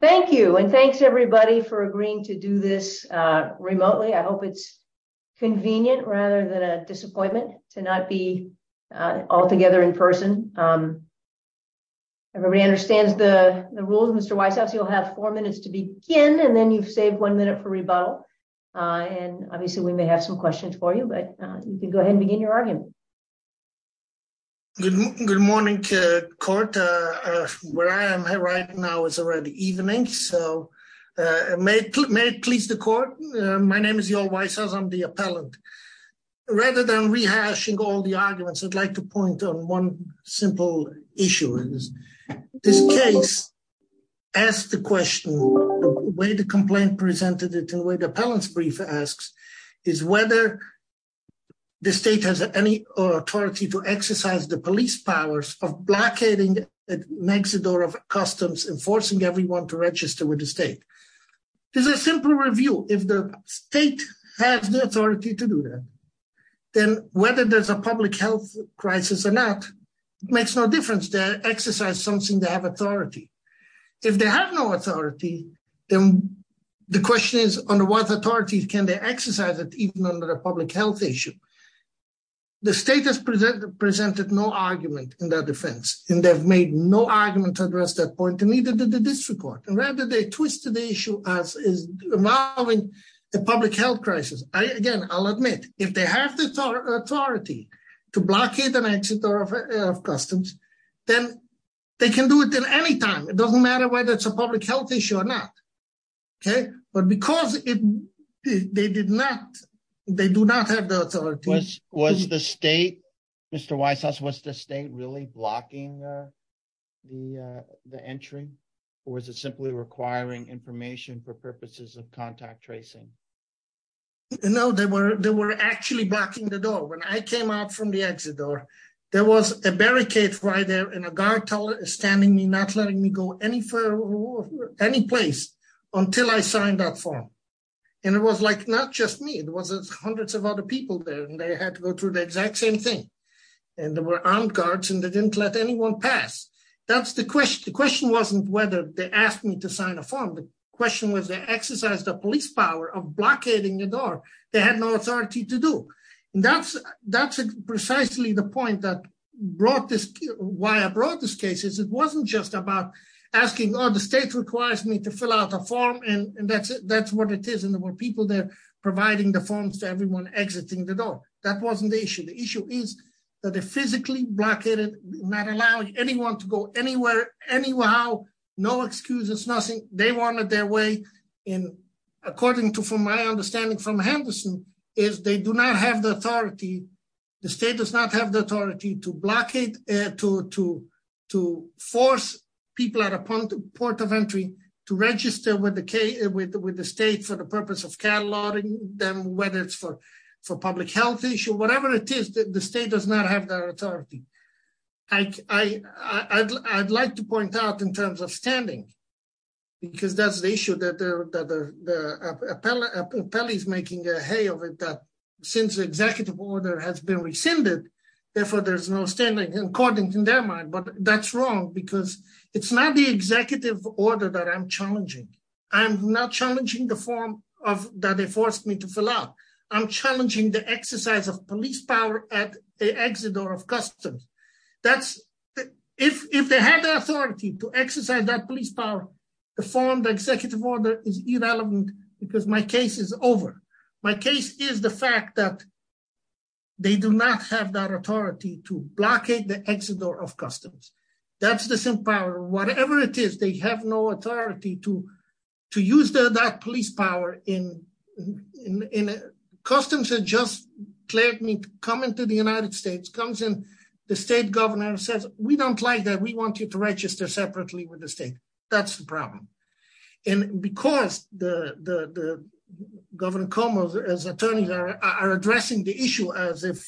Thank you and thanks everybody for agreeing to do this remotely. I hope it's convenient rather than a disappointment to not be all together in person. Everybody understands the rules. Mr. Weisshaus, you'll have four minutes to begin and then you've saved one minute for rebuttal and obviously we may have some questions for you but you can go ahead and begin your argument. Mr. Weisshaus Good morning, court. Where I am right now is already evening so may it please the court. My name is Yorl Weisshaus, I'm the appellant. Rather than rehashing all the arguments, I'd like to point on one simple issue. This case, ask the question, the way the complaint presented it and the way the appellant's brief asks is whether the state has any authority to exercise the police powers of blockading the exit door of customs and forcing everyone to register with the state. This is a simple review. If the state has the authority to do that, then whether there's a public health crisis or not makes no difference. They exercise something, they have authority. If they have no authority, then the question is under what authority can they exercise it even under a public health issue. The state has presented no argument in their defense and they've made no argument to address that point and neither did the district court and rather they twisted the issue as involving a public health crisis. Again, I'll admit, if they have the authority to blockade an exit door of customs, then they can do it at any time. It doesn't matter whether it's a public health issue or not. But because they do not have the authority. Was the state, Mr. Weisshaus, was the state really blocking the entry or was it requiring information for purposes of contact tracing? No, they were actually blocking the door. When I came out from the exit door, there was a barricade right there and a guard standing me, not letting me go any further any place until I signed that form. It was not just me, it was hundreds of other people there and they had to go through the exact same thing. There were armed guards and they didn't let anyone pass. That's the question. The question wasn't whether they asked me to sign a form. The question was they exercised the police power of blockading the door. They had no authority to do. That's precisely the point that brought this, why I brought this case. It wasn't just about asking, oh, the state requires me to fill out a form and that's what it is. And there were people there providing the forms to everyone exiting the door. That wasn't the issue. The issue is they physically blockaded, not allowing anyone to go anywhere, anyhow, no excuses, nothing. They wanted their way in, according to my understanding from Henderson, is they do not have the authority. The state does not have the authority to blockade, to force people at a point of entry to register with the state for the purpose of cataloging them, whether it's for public health issue, whatever it is, the state does not have that authority. I'd like to point out in terms of standing, because that's the issue that the appellee is making a hay of it, that since the executive order has been rescinded, therefore there's no standing, according to their mind. But that's wrong because it's not the executive order that I'm challenging. I'm not challenging the form that they forced me to fill out. I'm challenging the exercise of police power at the exit door of customs. If they had the authority to exercise that police power, the form, the executive order is irrelevant because my case is over. My case is the fact that they do not have that authority to blockade the exit door of customs. That's the same power. Whatever it is, they have no authority to use that police power. Customs has just cleared me to come into the United States, comes in, the state governor says, we don't like that, we want you to register separately with the state. That's the problem. And because Governor Cuomo's attorneys are addressing the issue as if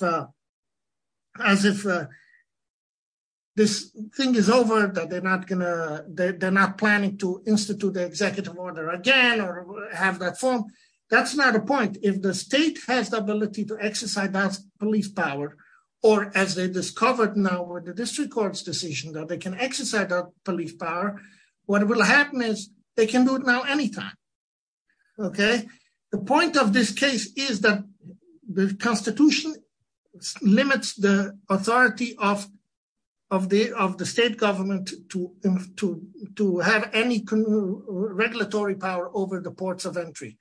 this thing is over, that they're not gonna, they're not planning to institute the executive order again or have that form, that's not a point. If the state has the ability to exercise that police power, or as they discovered now with the district court's decision that they can exercise that police power, what will happen is they can do it now anytime. Okay? The point of this case is that the constitution limits the authority of the state government to have any regulatory power over the ports of entry.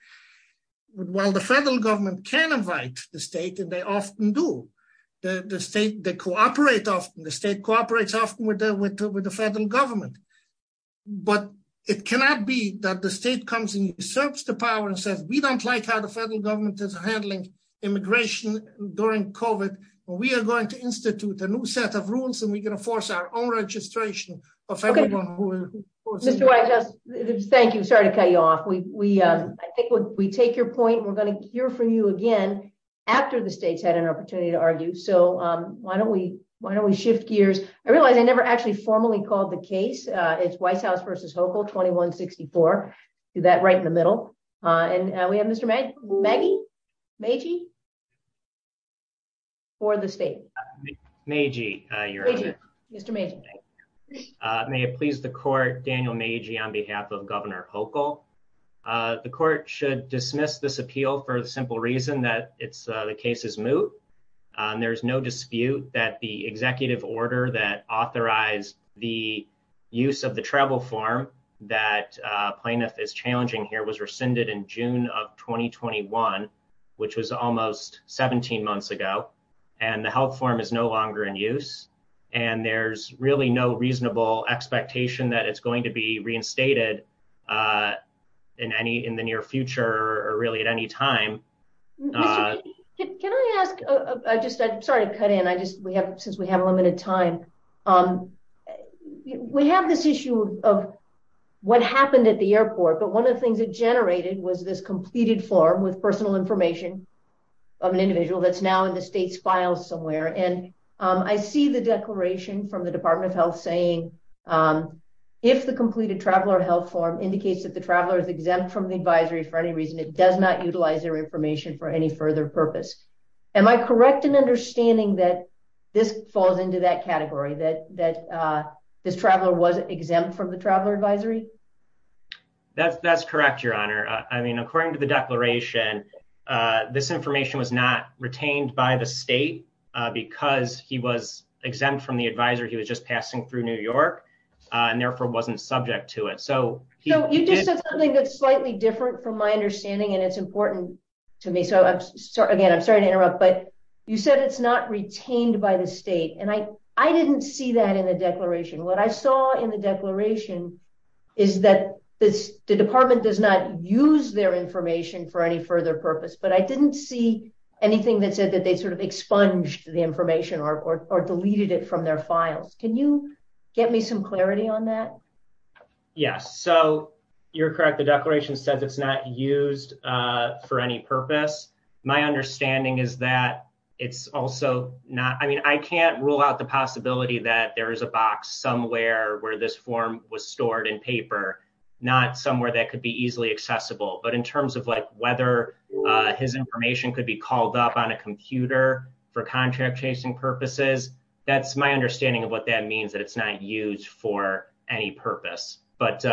While the federal government can invite the state, and they often do, the state cooperates often with the federal government. But it cannot be that the state comes and usurps the power and says, we don't like how the federal government is handling immigration during COVID, but we are going to institute a new set of rules and we're going to force our own registration of everyone who... Mr. Whitehouse, thank you. Sorry to cut you off. I think we take your point and we're going to hear from you again after the state's had an opportunity to argue. So why don't we shift gears? I realize I never actually formally called the case. It's Whitehouse versus Hochul, 2164. Do that right in the middle. And we have Mr. Magee for the state. Mr. Magee. May it please the court, Daniel Magee on behalf of Governor Hochul. The court should dismiss this appeal for the simple reason that the case is moot. There's no dispute that the executive order that authorized the use of the travel form that plaintiff is challenging here was rescinded in June of 2021, which was almost 17 months ago. And the health form is no longer in use. And there's really no reasonable expectation that it's going to be reinstated in the near future or really at any time. Mr. Magee, can I ask, I'm sorry to cut in, since we have limited time. We have this issue of what happened at the airport, but one of the things that generated was this completed form with personal information of an individual that's now in the state's files somewhere. And I see the declaration from the Department of Health saying, if the completed traveler health form indicates that the traveler is exempt from the advisory for any reason, it does not utilize their information for any further purpose. Am I correct in understanding that this falls into that category, that this traveler was exempt from the traveler advisory? That's correct, Your Honor. I mean, according to the declaration, this information was not retained by the state because he was exempt from the advisory. He was just passing through New York and therefore wasn't subject to it. You just said something that's slightly different from my understanding and it's important to me. So again, I'm sorry to interrupt, but you said it's not retained by the state. And I didn't see that in the declaration. What I saw in the declaration is that the department does not use their information for any further purpose, but I didn't see anything that said that they sort of expunged the information or deleted it from their files. Can you get me some clarity on that? Yes. So you're correct. The declaration says it's not used for any purpose. My understanding is that it's also not, I mean, I can't rule out the possibility that there is a box somewhere where this form was stored in paper, not somewhere that could be easily accessible. But in terms of like whether his information could be called up on a that means that it's not used for any purpose, but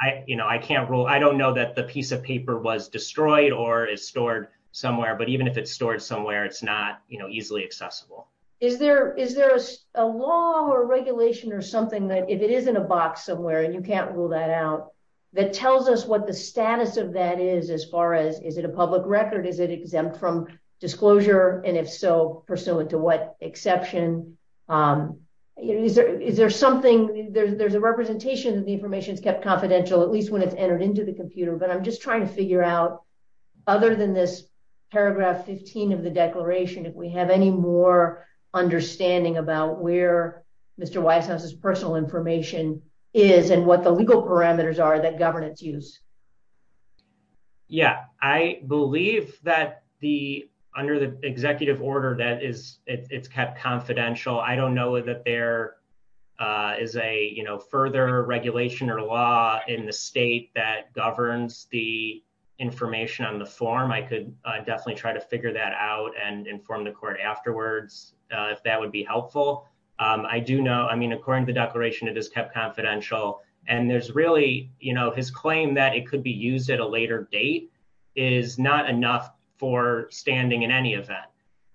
I can't rule. I don't know that the piece of paper was destroyed or is stored somewhere, but even if it's stored somewhere, it's not easily accessible. Is there a law or regulation or something that if it is in a box somewhere and you can't rule that out, that tells us what the status of that is as far as is it a Is there something, there's a representation that the information is kept confidential, at least when it's entered into the computer, but I'm just trying to figure out other than this paragraph 15 of the declaration, if we have any more understanding about where Mr. Weishaus's personal information is and what the legal parameters are that governance use. Yeah, I believe that the, under the executive order that is, it's kept confidential. I don't know that there is a, you know, further regulation or law in the state that governs the information on the form. I could definitely try to figure that out and inform the court afterwards, if that would be helpful. I do know, I mean, according to the declaration, it is kept confidential. And there's really, you know, his claim that it could be used at a later date is not enough for standing in any event.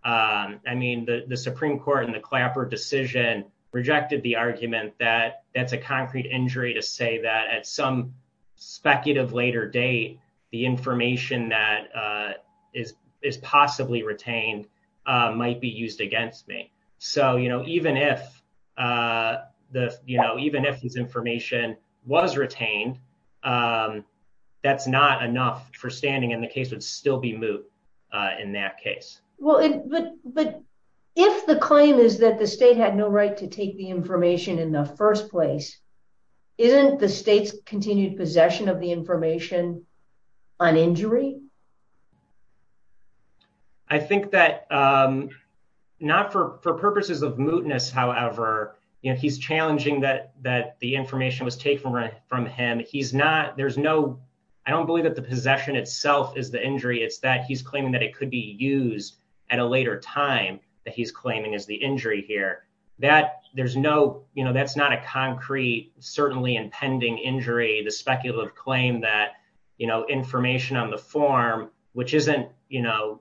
I mean, the Supreme Court and the Clapper decision rejected the argument that that's a concrete injury to say that at some speculative later date, the information that is possibly retained might be used against me. So, you know, even if the, you know, even if this information was retained, that's not enough for standing, and the case would still be moot in that case. Well, but if the claim is that the state had no right to take the information in the first place, isn't the state's continued possession of the information an injury? I think that not for purposes of mootness, however, you know, he's challenging that the information was taken from him. He's not, there's no, I don't believe that the possession itself is the injury. It's that he's claiming that it could be used at a later time that he's claiming is the injury here. That there's no, you know, that's not a concrete, certainly impending injury, the speculative claim that, you know, information on the form, which isn't, you know,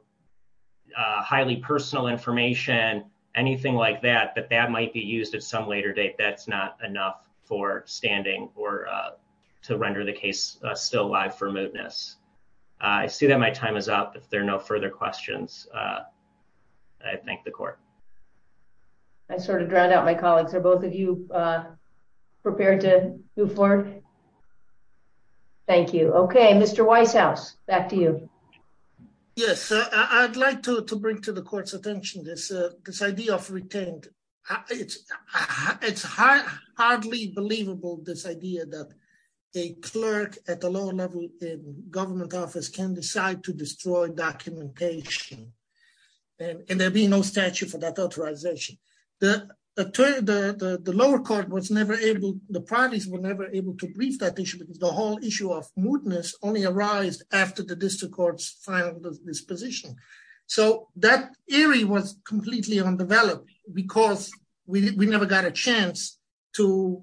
highly personal information, anything like that, that that might be used at some later date, that's not enough for standing or to render the case still live for mootness. I see that my time is up. If there are no further questions, I thank the court. I sort of drowned out my colleagues. Are both of you prepared to move forward? Thank you. Okay, Mr. Weishaus, back to you. Yes, I'd like to bring to the court's attention this, this idea of retained. It's hardly believable, this idea that a clerk at a lower level in government office can decide to destroy documentation. And there'll be no statute for that authorization. The lower court was never able, the parties were never able to brief that issue because the whole issue of mootness only arised after the district court's final disposition. So that area was completely undeveloped, because we never got a chance to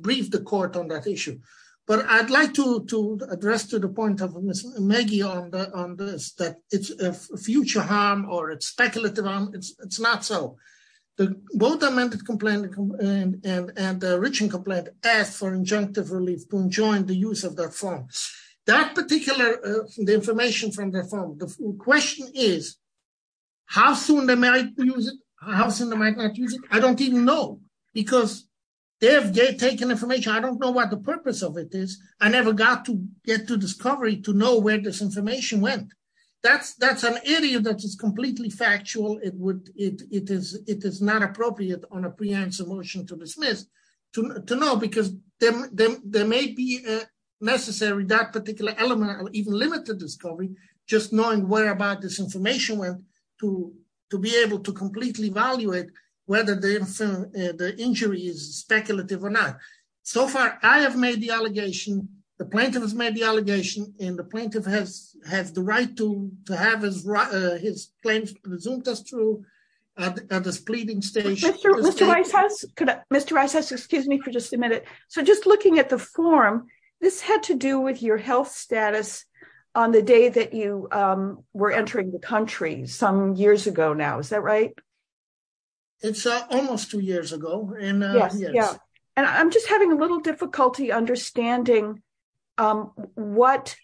brief the court on that issue. But I'd like to address to the point of Ms. Maggie on this, that it's a future harm, or it's speculative harm, it's not so. The both amended complaint and the original complaint asked for injunctive relief to enjoin the use of their form. That particular, the information from their form, the question is, how soon they might use it, how soon they might not use it, I don't even know. Because they have taken information, I don't know what the purpose of it is. I never got to get to discovery to know where this information went. That's, that's an area that is completely factual, it would, it is, it is not appropriate on a preemptive motion to dismiss, to know, because there may be necessary that particular element, or even limited discovery, just knowing whereabout this information went to, to be able to completely evaluate whether the injury is speculative or not. So far, I have made the allegation, the plaintiff has made the allegation, and the plaintiff has, has the right to, to have his right, his claims presumed as true at this pleading stage. Mr. Reises, excuse me for just a minute. So just looking at the form, this had to do with your status on the day that you were entering the country some years ago now, is that right? It's almost two years ago. And I'm just having a little difficulty understanding what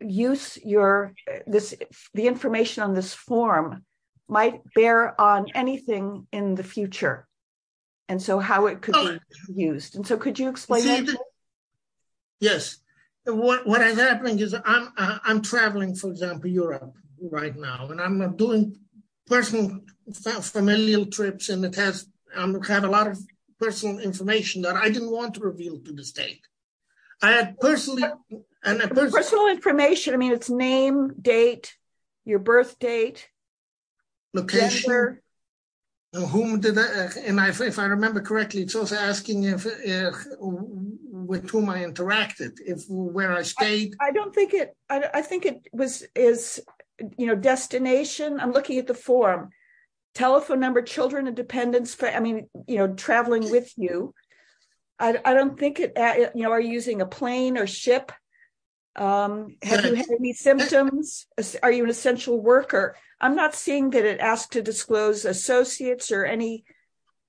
use your this, the information on this form might bear on anything in the future. And so how it could be used? And so could you explain? Yes, what has happened is I'm traveling, for example, Europe right now, and I'm doing personal familial trips, and it has a lot of personal information that I didn't want to reveal to the state. I had personally, personal information, I mean, its name, date, your birth date, location, whom did I, and if I remember correctly, it's also asking if, with whom I interacted, if where I stayed. I don't think it, I think it was, is, you know, destination. I'm looking at the form, telephone number, children and dependents for, I mean, you know, traveling with you. I don't think it, you know, are you using a plane or ship? Have you had any symptoms? Are you an essential worker? I'm not seeing that it asked to disclose associates or any,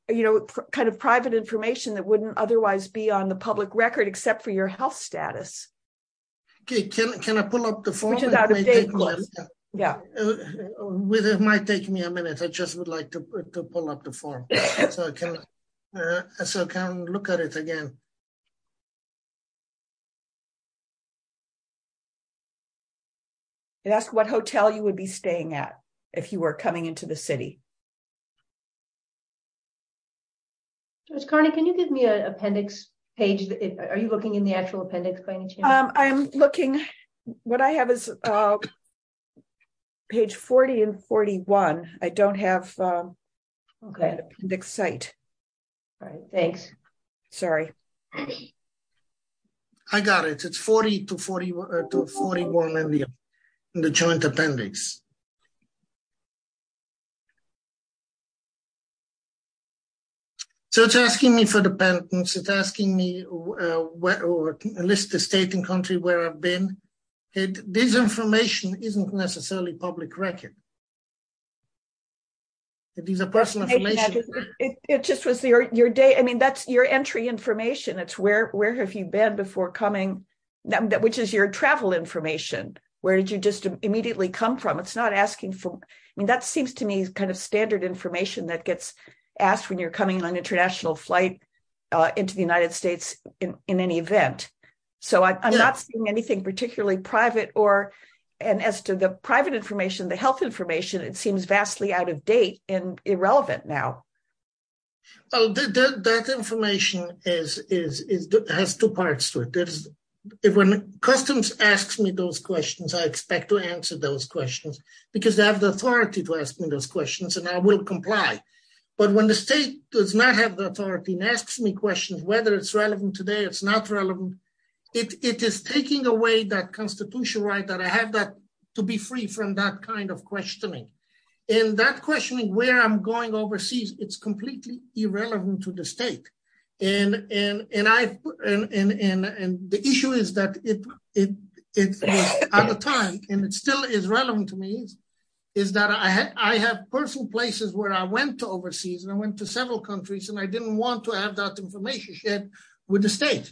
you know, kind of private information that wouldn't otherwise be on the public record except for your health status. Okay, can I pull up the form? Yeah, it might take me a minute. I just would like to pull up the form. So I can look at it again. It asked what hotel you would be staying at if you were coming into the city. Ms. Carney, can you give me an appendix page? Are you looking in the actual appendix? I'm looking, what I have is page 40 and 41. I don't have the appendix site. All right, thanks. Sorry. I got it. It's 40 to 41 in the joint appendix. So it's asking me for dependents. It's asking me, list the state and country where I've been. This information isn't necessarily public record. It is a personal information. It just was your day. I mean, that's your entry information. It's where have you been before coming, which is your travel information. Where did you just immediately come from? It's not asking for, I mean, that seems to me kind of standard information that gets asked when you're coming on international flight into the United States in any event. So I'm not seeing anything particularly private or, and as to the private information, the health information, it seems vastly out of date and irrelevant now. Well, that information has two parts to it. When customs asks me those questions, I expect to answer those questions because they have the authority to ask me those questions and I will comply. But when the state does not have the authority and asks me questions, whether it's relevant today, it's not relevant. It is taking away that constitutional right that I have that to be free from that kind of questioning. And that questioning where I'm going overseas, it's completely irrelevant to the state. And the issue is that at the time, and it still is relevant to me, is that I have personal places where I went to overseas and I went to several countries and I didn't want to have that information shared with the state.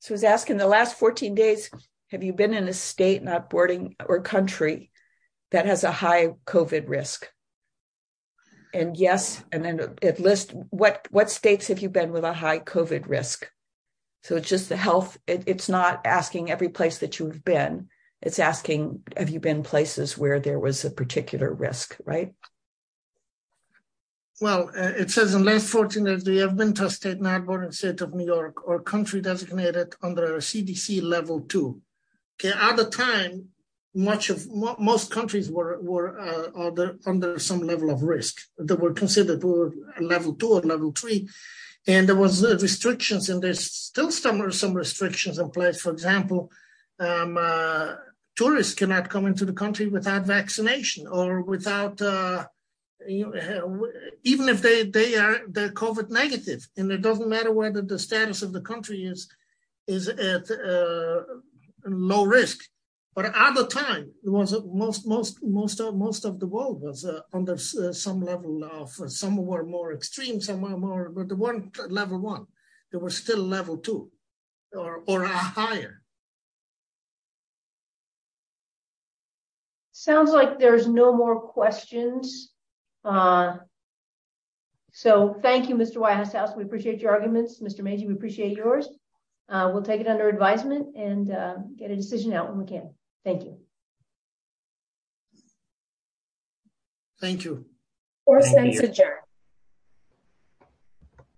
So it's asking the last 14 days, have you been in a state, not boarding or country that has a high COVID risk? And yes, and then it lists what states have you been with a high COVID risk? So it's just the health. It's not asking every place that you've been. It's asking, have you been places where there was a particular risk, right? Well, it says in last 14 days, do you have been to a state, not a state of New York or country designated under CDC level two. Okay. At the time, most countries were under some level of risk that were considered level two or level three. And there was restrictions and there's still some restrictions in place. For example, tourists cannot come into the country without vaccination or without, even if they are COVID negative and it doesn't matter whether the status of the country is at low risk. But at the time, most of the world was under some level of, some were more extreme, some were more, but the one level one, there were still level two or higher. Sounds like there's no more questions. So thank you, Mr. Whitehouse. We appreciate your arguments, Mr. Magee, we appreciate yours. We'll take it under advisement and get a decision out when we can. Thank you. Thank you.